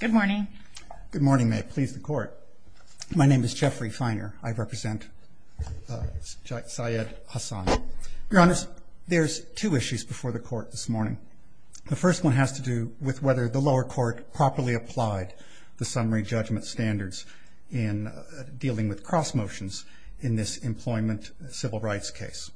Good morning. Good morning. May it please the court. My name is Jeffrey Feiner. I represent Syed Hasan. Your honors, there's two issues before the court this morning. The first one has to do with whether the lower court properly applied the summary judgment standards in dealing with cross motions in this employment civil rights case.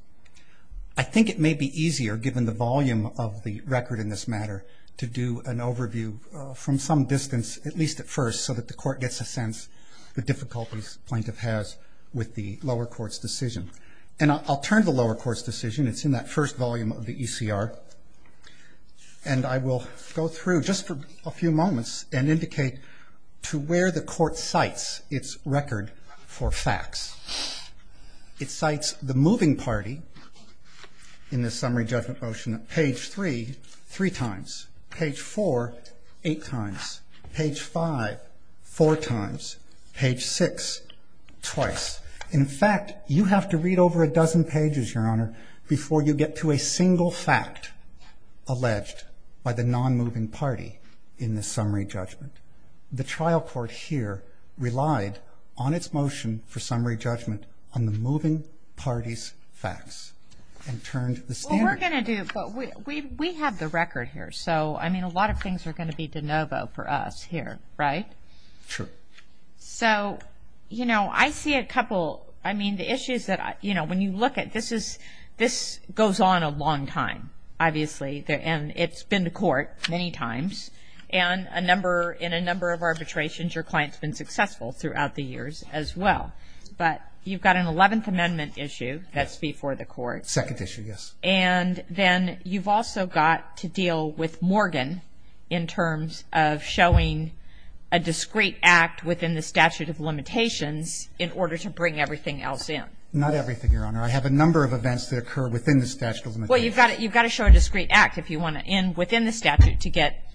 I think it may be easier given the volume of the record in this matter to do an overview from some distance, at least at first, so that the court gets a sense of the difficulties the plaintiff has with the lower court's decision. And I'll turn to the lower court's decision. It's in that first volume of the ECR. And I will go through just for a few moments and indicate to where the three, three times. Page 4, eight times. Page 5, four times. Page 6, twice. In fact, you have to read over a dozen pages, Your Honor, before you get to a single fact alleged by the non-moving party in the summary judgment. The trial court here relied on its motion for summary judgment on the moving party's facts and turned the standard. We're going to do, but we have the record here. So, I mean, a lot of things are going to be de novo for us here. Right? Sure. So, you know, I see a couple, I mean, the issues that, you know, when you look at, this is, this goes on a long time, obviously, and it's been to court many times. And a number, in a number of arbitrations, your client's been successful throughout the years as well. But you've got an 11th Amendment issue that's before the court. Second issue, yes. And then you've also got to deal with Morgan in terms of showing a discrete act within the statute of limitations in order to bring everything else in. Not everything, Your Honor. I have a number of events that occur within the statute of limitations. Well, you've got to show a discrete act if you want to end within the statute to get,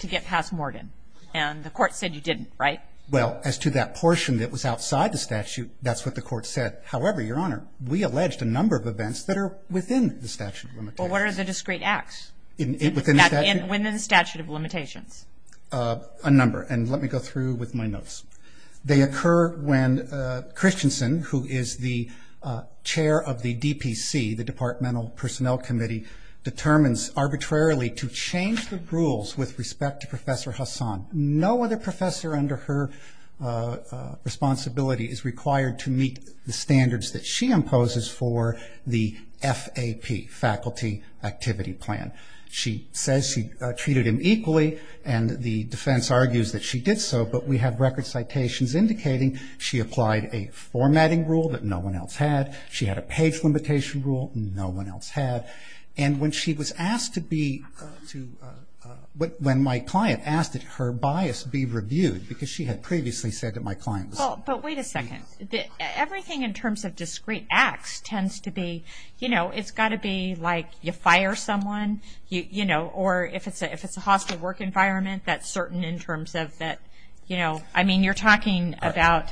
to get past Morgan. And the court said you didn't, right? Well, as to that portion that was outside the statute, that's what the court said. However, Your Honor, we alleged a number of events that are within the statute of limitations. Well, what are the discrete acts? Within the statute? Within the statute of limitations. A number. And let me go through with my notes. They occur when Christensen, who is the chair of the DPC, the Departmental Personnel Committee, determines arbitrarily to change the rules with respect to Professor Hassan. No other professor under her responsibility is required to meet the standards that she imposes for the FAP, Faculty Activity Plan. She says she treated him equally, and the defense argues that she did so, but we have record citations indicating she applied a formatting rule that no one else had. She had a page limitation rule no one else had. And when she was asked to be, to, when my client asked that her bias be reviewed, because she had previously said that my client was. Well, but wait a second. Everything in terms of discrete acts tends to be, you know, it's got to be like you fire someone, you know, or if it's a hostile work environment, that's certain in terms of that, you know, I mean, you're talking about,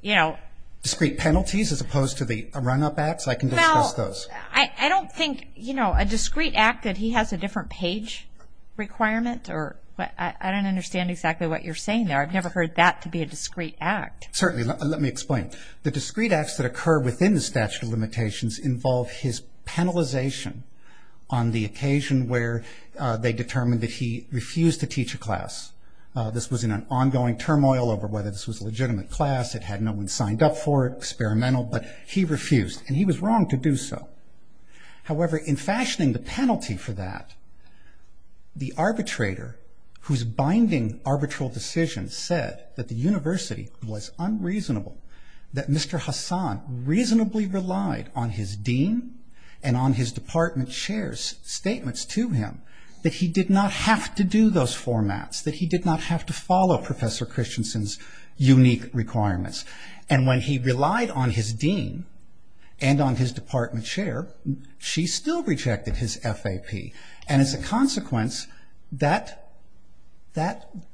you know. Discrete penalties as opposed to the run-up acts? I can discuss those. Well, I don't think, you know, a discrete act that he has a different page requirement or, I don't understand exactly what you're saying there. I've never heard that to be a discrete act. Certainly. Let me explain. The discrete acts that occur within the statute of limitations involve his penalization on the occasion where they determined that he refused to teach a class. This was in an ongoing turmoil over whether this was a legitimate class, it had no one signed up for it, experimental, but he refused, and he was wrong to do so. However, in fashioning the penalty for that, the arbitrator, whose binding arbitral decision said that the university was unreasonable, that Mr. Hassan reasonably relied on his dean and on his department chair's statements to him, that he did not have to do those formats, that he did not have to follow Professor Christensen's unique requirements. And when he relied on his dean and on his department chair, she still rejected his FAP. And as a consequence, that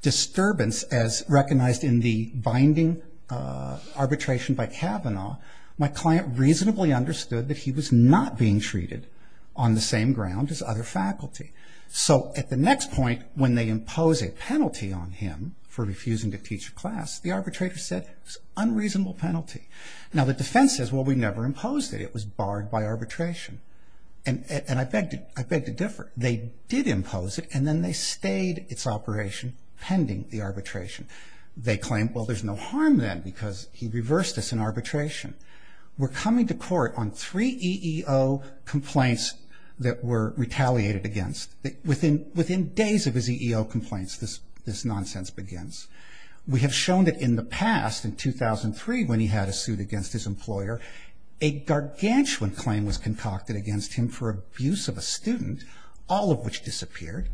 disturbance as recognized in the binding arbitration by Kavanaugh, my client reasonably understood that he was not being treated on the same ground as other faculty. So at the next point, when they impose a penalty on him for refusing to teach a class, the arbitrator said it was an unreasonable penalty. Now the defense says, well, we never imposed it, it was barred by arbitration. And I beg to differ. They did impose it, and then they stayed its operation pending the arbitration. They claimed, well, there's no harm then, because he reversed this in arbitration. We're coming to court on three EEO complaints that were retaliated against. Within days of his EEO complaints, this nonsense begins. We have shown that in the past, in 2003 when he had a suit against his employer, a gargantuan claim was concocted against him for abuse of a student, all of which disappeared.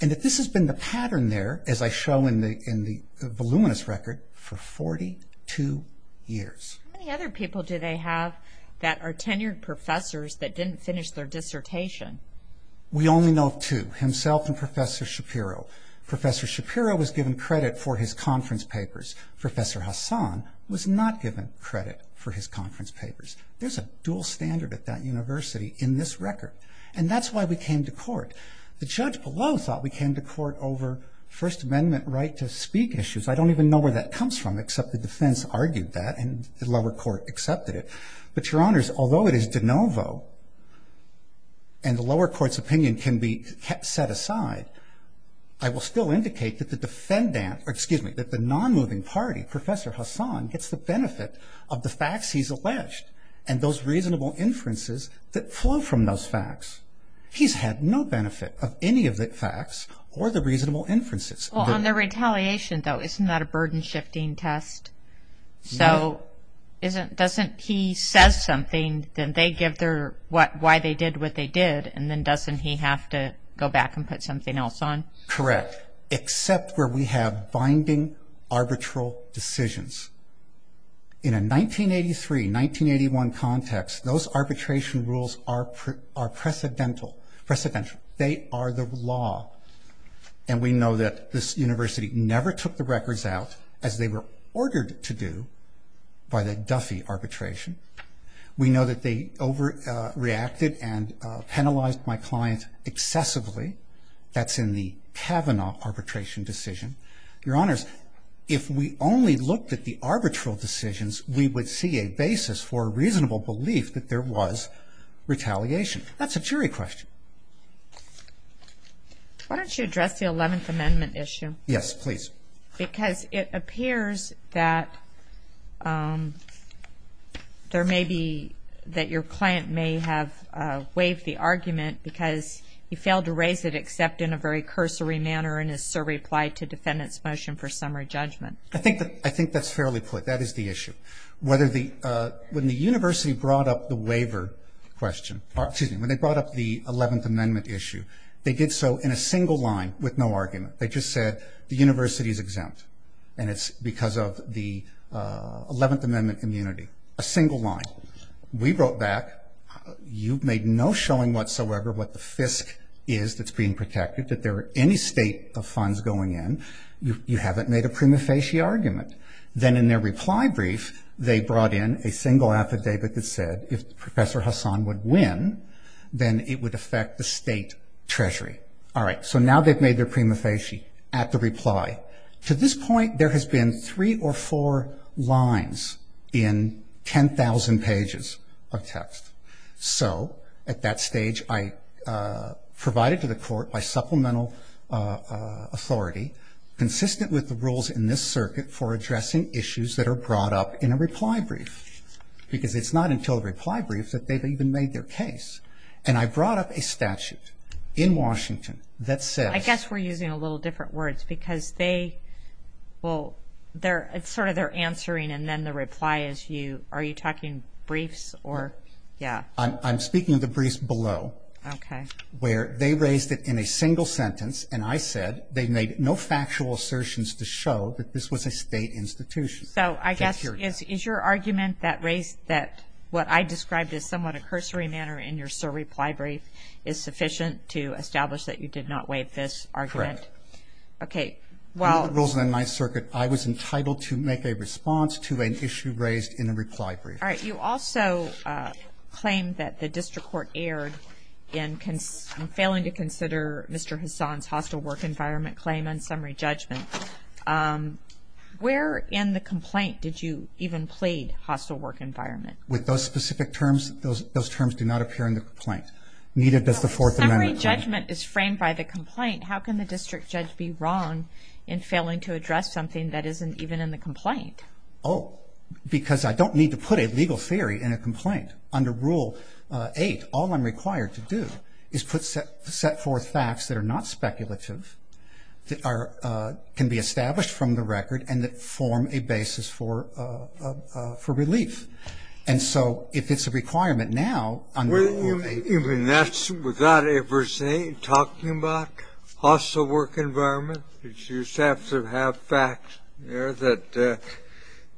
And that this has been the pattern there, as I show in the voluminous record, for 42 years. How many other people do they have that are tenured professors that didn't finish their dissertation? We only know of two, himself and Professor Shapiro. Professor Shapiro was given credit for his conference papers. Professor Hassan was not given credit for his conference papers. There's a dual standard at that university in this record. And that's why we came to court. The judge below thought we came to court over First Amendment right to speak issues. I don't even know where that comes from, except the defense argued that, and the lower court accepted it. But Your Honors, although it is de novo, and the lower court's opinion can be set aside, I will still indicate that the non-moving party, Professor Hassan, gets the benefit of the facts he's alleged and those reasonable inferences that flow from those facts. He's had no benefit of any of the facts or the reasonable inferences. Well, on the retaliation, though, isn't that a burden-shifting test? So doesn't he say something, then they give why they did what they did, and then doesn't he have to go back and put something else on? Correct, except where we have binding arbitral decisions. In a 1983, 1981 context, those arbitration rules are precedental. They are the law. And we know that this university never took the records out, as they were ordered to do, by the Duffy arbitration. We know that they overreacted and penalized my client excessively. That's in the Kavanaugh arbitration decision. Your Honors, if we only looked at the arbitral decisions, we would see a basis for a reasonable belief that there was retaliation. That's a jury question. Why don't you address the Eleventh Amendment issue? Yes, please. Because it appears that there may be, that your client may have waived the argument because he failed to raise it except in a very cursory manner in his survey applied to defendant's motion for summary judgment. I think that's fairly put. That is the issue. When the university brought up the waiver question, excuse me, when they brought up the Eleventh Amendment issue, they did so in a single line with no argument. They just said, the university is exempt. And it's because of the Eleventh Amendment immunity. A single line. We wrote back, you've made no showing whatsoever what the FISC is that's being protected, that there are any state of funds going in. You haven't made a prima facie argument. Then in their reply brief, they brought in a single affidavit that said, if Professor Hassan would win, then it would affect the state treasury. All right. So now they've made their prima facie at the reply. To this point, there has been three or four lines in 10,000 pages of text. So at that stage, I provided to the court by supplemental authority, consistent with the rules in this circuit for addressing issues that are brought up in a reply brief. Because it's not until a reply brief that they've even made their case. And I brought up a statute in Washington that says... I guess we're using a little different words because they, well, it's sort of their answering and then the reply is you, are you talking briefs or, yeah. I'm speaking of the briefs below. Okay. Where they raised it in a single sentence and I said, they made no factual assertions to show that this was a state institution. So I guess, is your argument that raised, that what I described as somewhat a cursory manner in your reply brief is sufficient to establish that you did not waive this argument? Correct. Okay. Well... Under the rules in my circuit, I was entitled to make a response to an issue raised in a reply brief. All right. You also claimed that the district court erred in failing to consider Mr. Hassan's complaint. Did you even plead hostile work environment? With those specific terms, those terms do not appear in the complaint. Neither does the Fourth Amendment. Summary judgment is framed by the complaint. How can the district judge be wrong in failing to address something that isn't even in the complaint? Oh, because I don't need to put a legal theory in a complaint. Under Rule 8, all I'm required to do is put set forth facts that are not speculative, that can be established from the record, and that form a basis for relief. And so, if it's a requirement now, under Rule 8... Even that's without ever talking about hostile work environment? You just have to have facts there that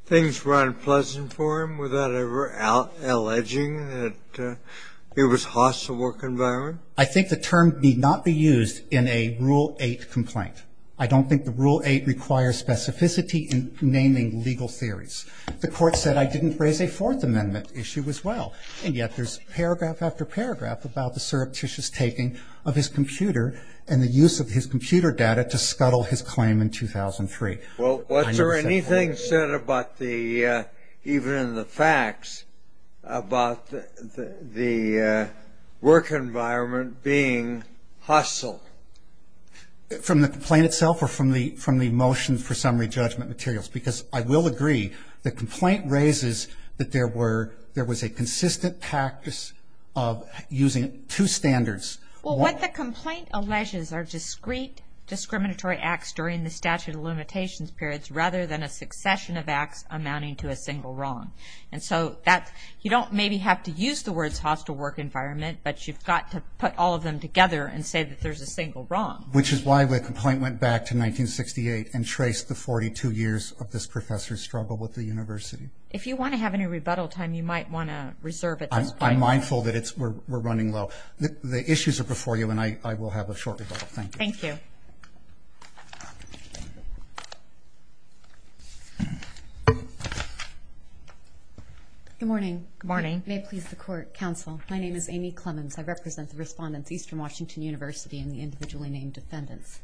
things were unpleasant for him without ever alleging that it was hostile work environment? I think the term need not be used in a Rule 8 complaint. I don't think the Rule 8 requires specificity in naming legal theories. The court said I didn't raise a Fourth Amendment issue as well, and yet there's paragraph after paragraph about the surreptitious taking of his computer and the use of his computer data to scuttle his claim in 2003. Well, was there anything said about the, even in the facts, about the work environment being hostile? From the complaint itself or from the motion for summary judgment materials? Because I will agree, the complaint raises that there was a consistent practice of using two standards. Well, what the complaint alleges are discrete discriminatory acts during the statute of limitations periods rather than a succession of acts amounting to a single wrong. And so, you don't maybe have to use the words hostile work environment, but you've got to put all of them together and say that there's a single wrong. Which is why the complaint went back to 1968 and traced the 42 years of this professor's struggle with the university. If you want to have any rebuttal time, you might want to reserve at this point. I'm mindful that we're running low. The issues are before you, and I will have a short rebuttal. Thank you. Good morning. May it please the court, counsel. My name is Amy Clemmons. I represent the respondents Eastern Washington University and the individually named defendants.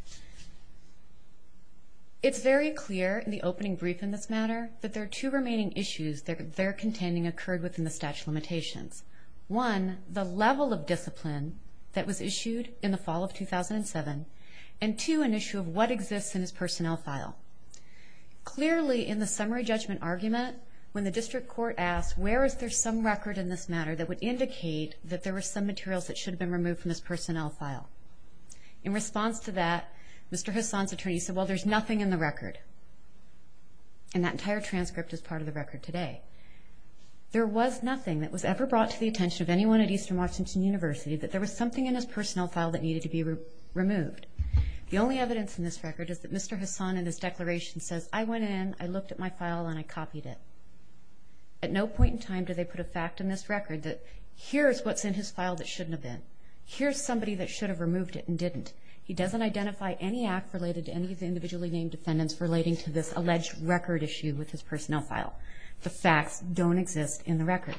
It's very clear in the opening brief in this matter that there are two remaining issues that are contending occurred within the statute of limitations. One, the level of discipline that was issued in the fall of 2007. And two, an issue of what exists in his personnel file. Clearly in the summary judgment argument, when the district court asked, where is there some record in this matter that would indicate that there were some materials that should have been removed from his personnel file. In response to that, Mr. Hassan's attorney said, well, there's nothing in the record. And that entire transcript is part of the record today. There was nothing that was ever brought to the attention of anyone at Eastern Washington University that there was something in his personnel file that needed to be removed. The only evidence in this record is that Mr. Hassan in his declaration says, I went in, I looked at my file, and I copied it. At no point in time do they put a fact in this record that here's what's in his file that shouldn't have been. Here's somebody that should have removed it and didn't. He doesn't identify any act related to any of the individually named defendants relating to this alleged record issue with his personnel file. The facts don't exist in the record.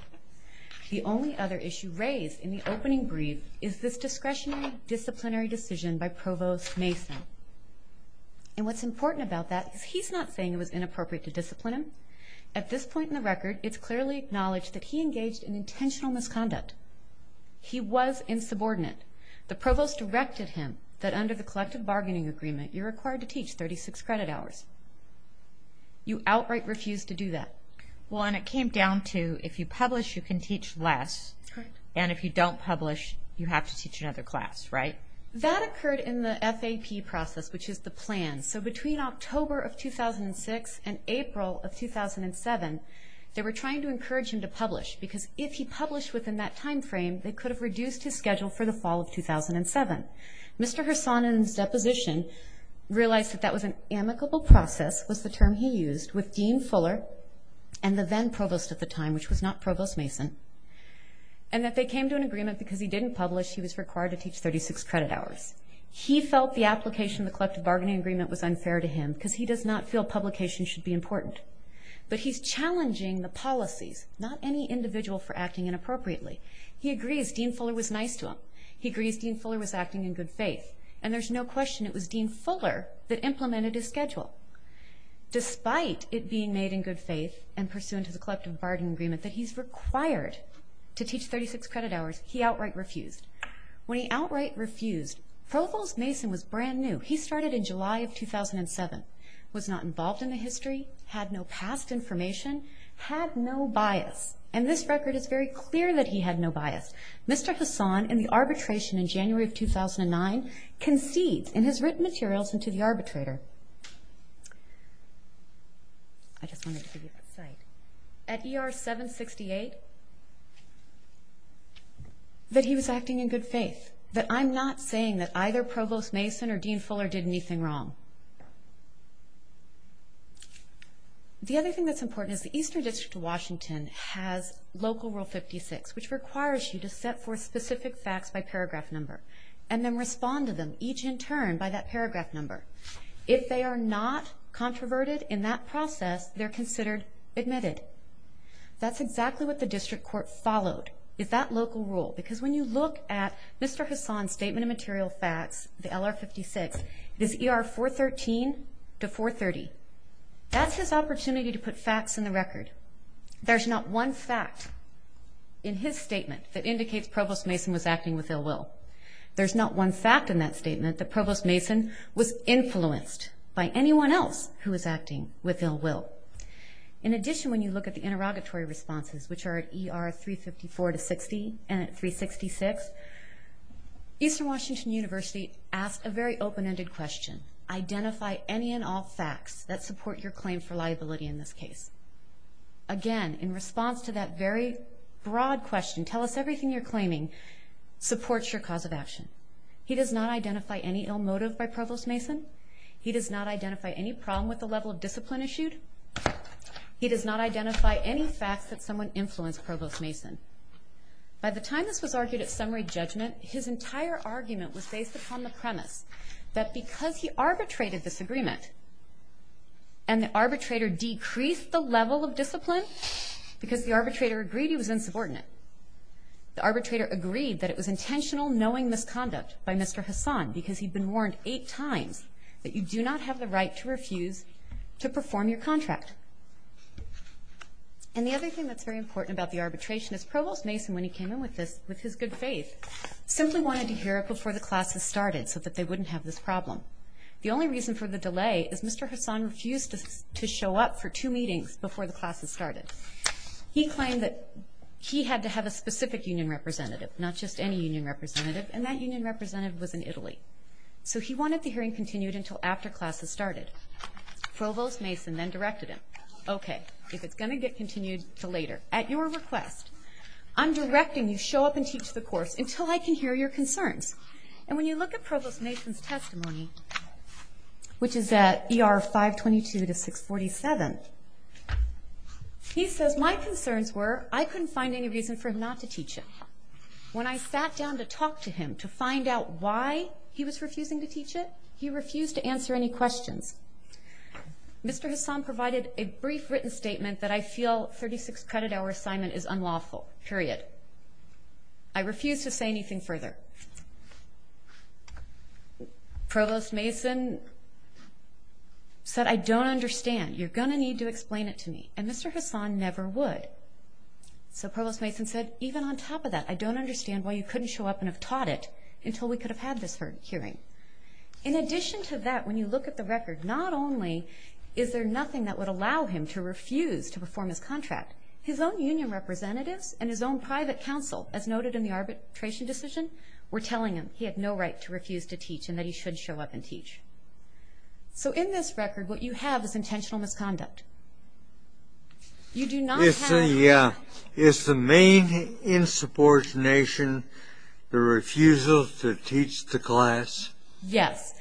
The only other issue raised in the opening brief is this discretionary disciplinary decision by Provost Mason. And what's important about that is he's not saying it was inappropriate to discipline him. At this point in the record, it's clearly acknowledged that he engaged in intentional misconduct. He was insubordinate. The provost directed him that under the collective bargaining agreement, you're required to teach 36 credit hours. You outright refused to do that. Well, and it came down to if you publish, you can teach less. And if you don't publish, you have to teach another class, right? That occurred in the FAP process, which is the plan. So between October of 2006 and April of 2007, they were trying to encourage him to publish because if he published within that time frame, they could have reduced his schedule for the fall of 2007. Mr. Hersonen's deposition realized that that was an amicable process, was the term he used, with Dean Fuller and the then provost at the time, which was not Provost Mason, and that they came to an agreement because he didn't publish, he was required to teach 36 credit hours. He felt the application of the collective bargaining agreement was unfair to him because he does not feel publication should be important. But he's challenging the policies, not any individual for acting inappropriately. He agrees Dean Fuller was nice to him. He agrees Dean Fuller was acting in good faith, and there's no question it was Dean Fuller that implemented his schedule. Despite it being made in good faith and pursuant to the collective bargaining agreement that he's required to teach 36 credit hours, he outright refused. When he outright refused, Provost Mason was brand new. He started in July of 2007, was not involved in the history, had no past information, had no bias. And this record is very clear that he had no bias. Mr. Hassan, in the arbitration in January of 2009, concedes in his written materials into the arbitrator, at ER 768, that he was acting in good faith, that I'm not saying that either Provost Mason or Dean Fuller did anything wrong. The other thing that's important is the Eastern District of Washington has Local Rule 56, which requires you to set forth specific facts by paragraph number, and then respond to them, each in turn, by that paragraph number. If they are not controverted in that process, they're considered admitted. That's exactly what the district court followed, is that local rule, because when you look at Mr. Hassan's statement of material facts, the LR 56, it is ER 413 to 430. That's his opportunity to put facts in the record. There's not one fact in his statement that indicates Provost Mason was acting with ill will. There's not one fact in that statement that Provost Mason was influenced by anyone else who was acting with ill will. In addition, when you look at the interrogatory responses, which are at ER 354 to 60, and at 366, Eastern Washington University asked a very open-ended question. Identify any and all facts that support your claim for liability in this case. Again, in response to that very broad question, tell us everything you're claiming supports your cause of action. He does not identify any ill motive by Provost Mason. He does not identify any problem with the level of discipline issued. He does not identify any facts that someone influenced Provost Mason. By the time this was argued at summary judgment, his entire argument was based upon the premise that because he arbitrated this agreement, and the arbitrator decreased the level of discipline because the arbitrator agreed he was insubordinate. The arbitrator agreed that it was intentional knowing this conduct by Mr. Hassan because he'd been warned eight times that you do not have the right to refuse to perform your contract. And the other thing that's very important about the arbitration is Provost Mason, when he came in with this, with his good faith, simply wanted to hear it before the classes started so that they wouldn't have this problem. The only reason for the delay is Mr. Hassan refused to show up for two meetings before the classes started. He claimed that he had to have a specific union representative, not just any union representative, and that union representative was in Italy. So he wanted the hearing continued until after classes started. Provost Mason then directed him, okay, if it's going to get continued until later, at your request, I'm directing you show up and teach the course until I can hear your concerns. And when you look at Provost Mason's testimony, which is at ER 522 to 647, he says, my concerns were I couldn't find any reason for him not to teach it. When I sat down to talk to him to find out why he was refusing to teach it, he refused to answer any questions. Mr. Hassan provided a brief written statement that I feel 36 credit hour assignment is unlawful, period. I refuse to say anything further. Provost Mason said, I don't understand. You're going to need to explain it to me. And Mr. Hassan never would. So Provost Mason said, even on top of that, I don't understand why you couldn't show up and have taught it until we could have had this hearing. In addition to that, when you look at the record, not only is there nothing that would allow him to refuse to perform his contract, his own union representatives and his own private counsel, as noted in the arbitration decision, were telling him he had no right to refuse to teach and that he should show up and teach. So in this record, what you have is intentional misconduct. You do not have... Is the main insubordination the refusal to teach the class? Yes.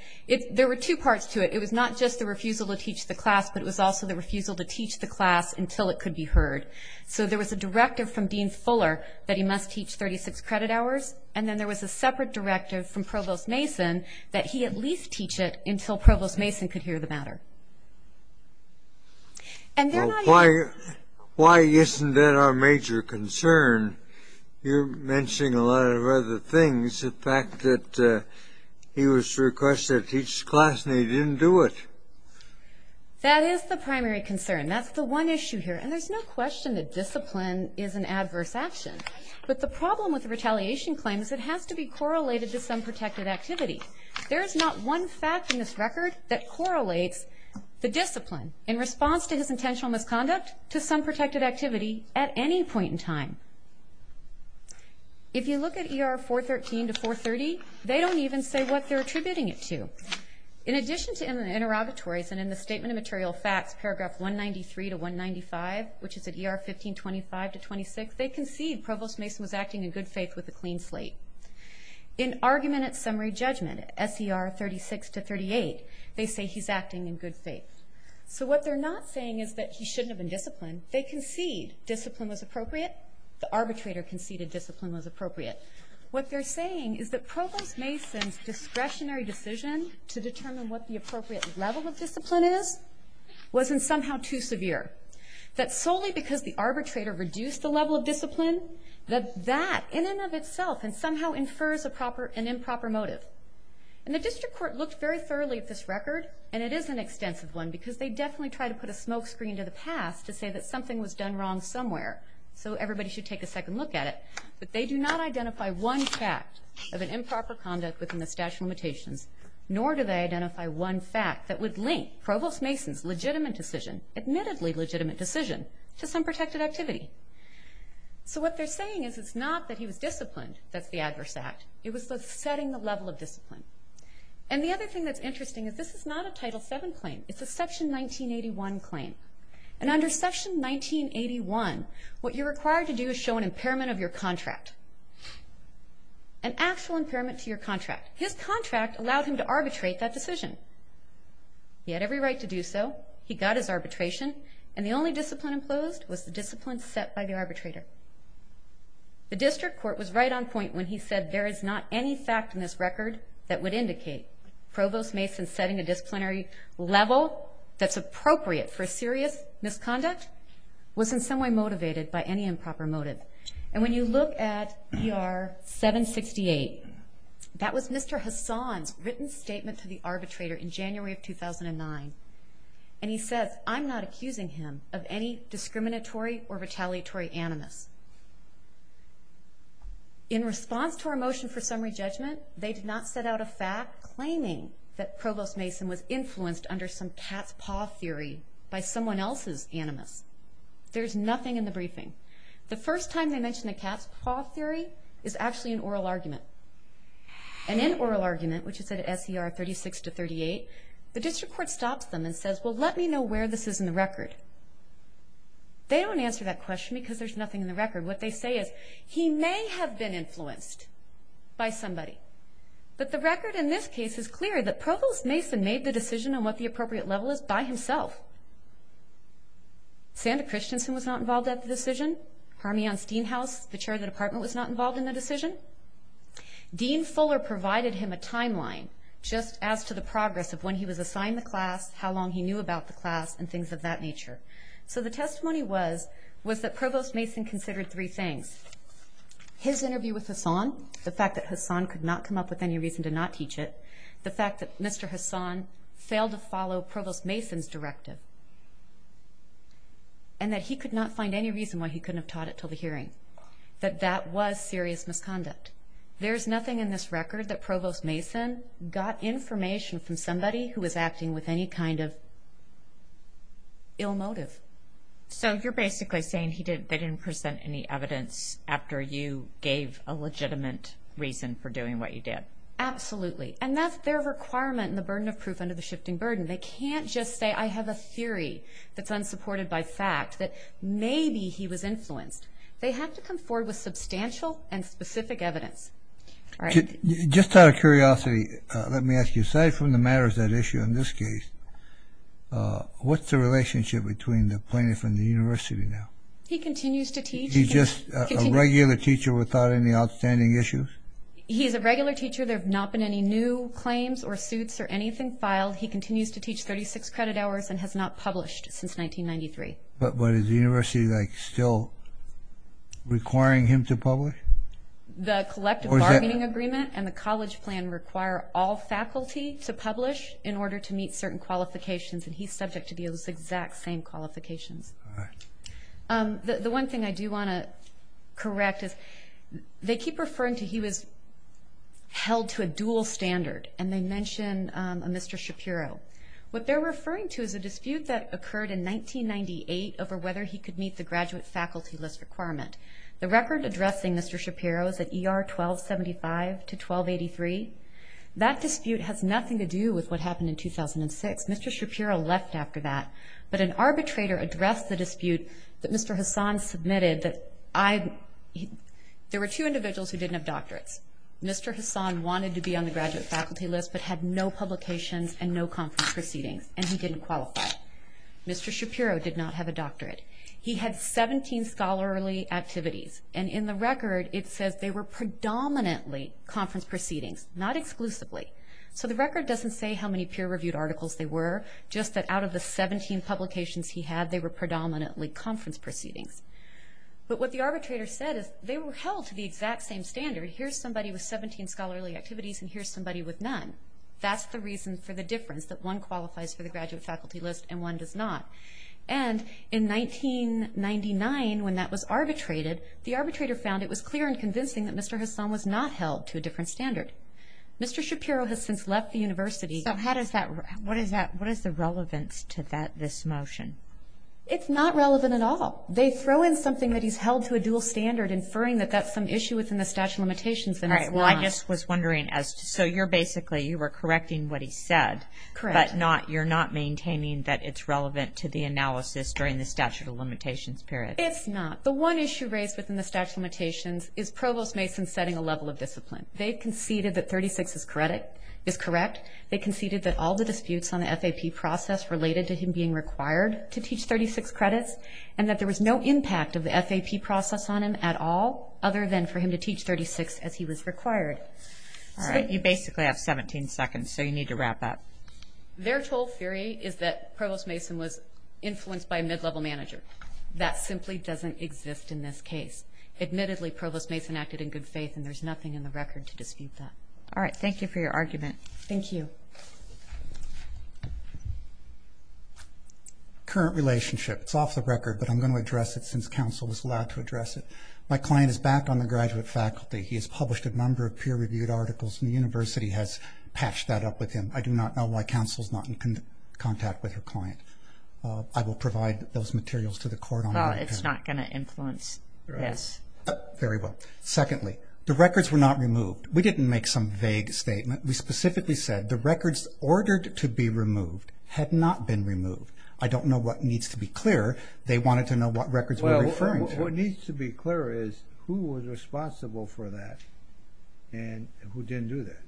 There were two parts to it. It was not just the refusal to teach the class, but it was also the refusal to teach the class until it could be heard. So there was a directive from Dean Fuller that he must teach 36 credit hours, and then there was a separate directive from Provost Mason that he at least teach it until Provost Mason could hear the matter. And then I... Why isn't that our major concern? You're mentioning a lot of other things. The fact that he was requested to teach the class and he didn't do it. That is the primary concern. That's the one issue here. There's no question that discipline is an adverse action, but the problem with the retaliation claim is it has to be correlated to some protected activity. There is not one fact in this record that correlates the discipline in response to his intentional misconduct to some protected activity at any point in time. If you look at ER 413 to 430, they don't even say what they're attributing it to. In addition to in the interrogatories and in the statement of material facts, paragraph 193 to 195, which is at ER 1525 to 26, they concede Provost Mason was acting in good faith with a clean slate. In argument at summary judgment, SER 36 to 38, they say he's acting in good faith. So what they're not saying is that he shouldn't have been disciplined. They concede discipline was appropriate. The arbitrator conceded discipline was appropriate. What they're saying is that Provost Mason's discretionary decision to determine what the appropriate level of discipline is wasn't somehow too severe. That solely because the arbitrator reduced the level of discipline, that that in and of itself somehow infers an improper motive. And the district court looked very thoroughly at this record, and it is an extensive one because they definitely tried to put a smoke screen to the past to say that something was done wrong somewhere. So everybody should take a second look at it. But they do not identify one fact of an improper conduct within the statute of limitations, nor do they identify one fact that would link Provost Mason's legitimate decision, admittedly legitimate decision, to some protected activity. So what they're saying is it's not that he was disciplined that's the adverse act. It was the setting the level of discipline. And the other thing that's interesting is this is not a Title VII claim. It's a Section 1981 claim. And under Section 1981, what you're required to do is show an impairment of your contract, an actual impairment to your contract. His contract allowed him to arbitrate that decision. He had every right to do so. He got his arbitration, and the only discipline imposed was the discipline set by the arbitrator. The district court was right on point when he said there is not any fact in this record that would indicate Provost Mason setting a disciplinary level that's appropriate for serious misconduct, was in some way motivated by any improper motive. And when you look at ER 768, that was Mr. Hassan's written statement to the arbitrator in January of 2009. And he says, I'm not accusing him of any discriminatory or retaliatory animus. In response to our motion for summary judgment, they did not set out a fact claiming that someone else's animus. There's nothing in the briefing. The first time they mentioned a cat's paw theory is actually an oral argument. And in oral argument, which is at SER 36 to 38, the district court stops them and says, well, let me know where this is in the record. They don't answer that question because there's nothing in the record. What they say is, he may have been influenced by somebody. But the record in this case is clear that Provost Mason made the decision on what the appropriate level is by himself. Santa Christensen was not involved at the decision. Hermione Steenhouse, the chair of the department, was not involved in the decision. Dean Fuller provided him a timeline just as to the progress of when he was assigned the class, how long he knew about the class, and things of that nature. So the testimony was that Provost Mason considered three things. His interview with Hassan, the fact that Hassan could not come up with any reason to not teach it, the fact that Mr. Hassan failed to follow Provost Mason's directive. And that he could not find any reason why he couldn't have taught it until the hearing. That that was serious misconduct. There's nothing in this record that Provost Mason got information from somebody who was acting with any kind of ill motive. So you're basically saying they didn't present any evidence after you gave a legitimate reason for doing what you did. Absolutely. And that's their requirement in the burden of proof under the shifting burden. They can't just say, I have a theory that's unsupported by fact that maybe he was influenced. They have to come forward with substantial and specific evidence. Just out of curiosity, let me ask you, aside from the matter of that issue in this case, what's the relationship between the plaintiff and the university now? He continues to teach. He's just a regular teacher without any outstanding issues? He's a regular teacher. There have not been any new claims or suits or anything filed. He continues to teach 36 credit hours and has not published since 1993. But is the university still requiring him to publish? The collective bargaining agreement and the college plan require all faculty to publish in order to meet certain qualifications. And he's subject to those exact same qualifications. The one thing I do want to correct is they keep referring to he was held to a dual standard. And they mention a Mr. Shapiro. What they're referring to is a dispute that occurred in 1998 over whether he could meet the graduate faculty list requirement. The record addressing Mr. Shapiro is at ER 1275 to 1283. That dispute has nothing to do with what happened in 2006. Mr. Shapiro left after that. But an arbitrator addressed the dispute that Mr. Hassan submitted that I, there were two individuals who didn't have doctorates. Mr. Hassan wanted to be on the graduate faculty list but had no publications and no conference proceedings. And he didn't qualify. Mr. Shapiro did not have a doctorate. He had 17 scholarly activities. And in the record, it says they were predominantly conference proceedings, not exclusively. So the record doesn't say how many peer-reviewed articles they were. Just that out of the 17 publications he had, they were predominantly conference proceedings. But what the arbitrator said is they were held to the exact same standard. Here's somebody with 17 scholarly activities and here's somebody with none. That's the reason for the difference that one qualifies for the graduate faculty list and one does not. And in 1999, when that was arbitrated, the arbitrator found it was clear and convincing that Mr. Hassan was not held to a different standard. Mr. Shapiro has since left the university. So how does that, what is that, what is the relevance to that, this motion? It's not relevant at all. They throw in something that he's held to a dual standard, inferring that that's some issue within the statute of limitations and it's not. All right. Well, I just was wondering as to, so you're basically, you were correcting what he said. Correct. But not, you're not maintaining that it's relevant to the analysis during the statute of limitations period. It's not. The one issue raised within the statute of limitations is Provost Mason setting a level of discipline. They conceded that 36 is correct. They conceded that all the disputes on the FAP process related to him being required to teach 36 credits and that there was no impact of the FAP process on him at all other than for him to teach 36 as he was required. All right. You basically have 17 seconds. So you need to wrap up. Their total theory is that Provost Mason was influenced by a mid-level manager. That simply doesn't exist in this case. Admittedly, Provost Mason acted in good faith and there's nothing in the record to dispute that. All right. Thank you for your argument. Thank you. Current relationship. It's off the record, but I'm going to address it since council was allowed to address it. My client is back on the graduate faculty. He has published a number of peer-reviewed articles and the university has patched that up with him. I do not know why council is not in contact with her client. I will provide those materials to the court on that. It's not going to influence this. Very well. Secondly, the records were not removed. We didn't make some vague statement. We specifically said the records ordered to be removed had not been removed. I don't know what needs to be clear. They wanted to know what records were referring to. What needs to be clear is who was responsible for that and who didn't do that.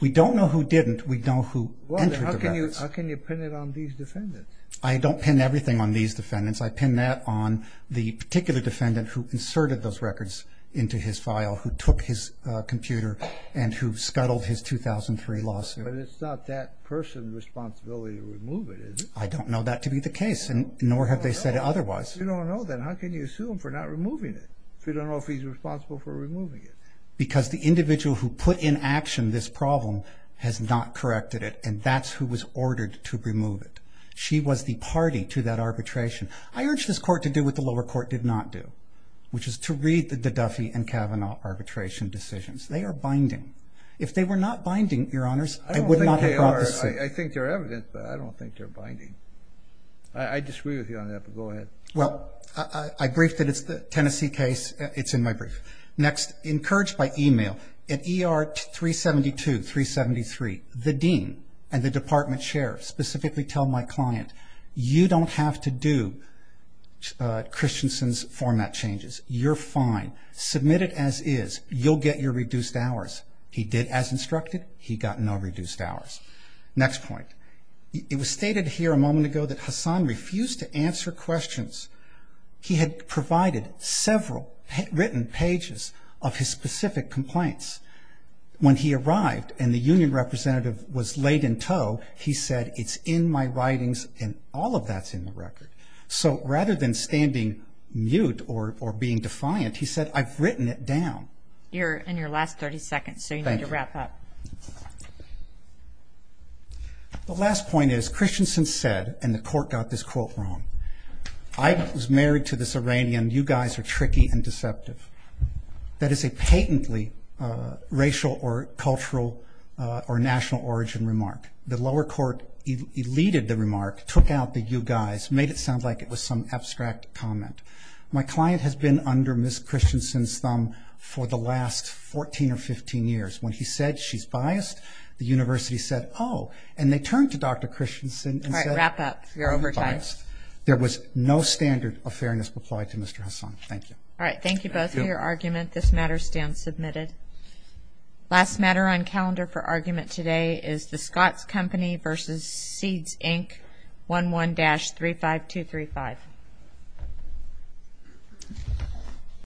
We don't know who didn't. We know who entered the records. How can you pin it on these defendants? I don't pin everything on these defendants. I pin that on the particular defendant who inserted those records into his file, who took his computer, and who scuttled his 2003 lawsuit. It's not that person's responsibility to remove it, is it? I don't know that to be the case and nor have they said otherwise. You don't know that. How can you sue them for not removing it if you don't know if he's responsible for removing it? Because the individual who put in action this problem has not corrected it, and that's who was ordered to remove it. She was the party to that arbitration. I urge this court to do what the lower court did not do, which is to read the Duffy and Kavanaugh arbitration decisions. They are binding. If they were not binding, Your Honors, I would not have brought this suit. I think they're evident, but I don't think they're binding. I disagree with you on that, but go ahead. Well, I briefed it. It's the Tennessee case. It's in my brief. Next. Encouraged by email. In ER 372, 373, the dean and the department chair specifically tell my client, you don't have to do Christensen's format changes. You're fine. Submit it as is. You'll get your reduced hours. He did as instructed. He got no reduced hours. Next point. It was stated here a moment ago that Hassan refused to answer questions. He had provided several written pages of his specific complaints. When he arrived and the union representative was laid in tow, he said, it's in my writings and all of that's in the record. So rather than standing mute or being defiant, he said, I've written it down. You're in your last 30 seconds, so you need to wrap up. The last point is Christensen said, and the court got this quote wrong, I was married to this Iranian. You guys are tricky and deceptive. That is a patently racial or cultural or national origin remark. The lower court eluded the remark, took out the you guys, made it sound like it was some abstract comment. My client has been under Ms. Christensen's thumb for the last 14 or 15 years. When he said she's biased, the university said, oh, and they turned to Dr. Christensen and said, you're biased. There was no standard of fairness applied to Mr. Hassan. Thank you. All right. Thank you both for your argument. This matter stands submitted. Last matter on calendar for argument today is the Scott's Company v. Seeds Inc., 11-35235.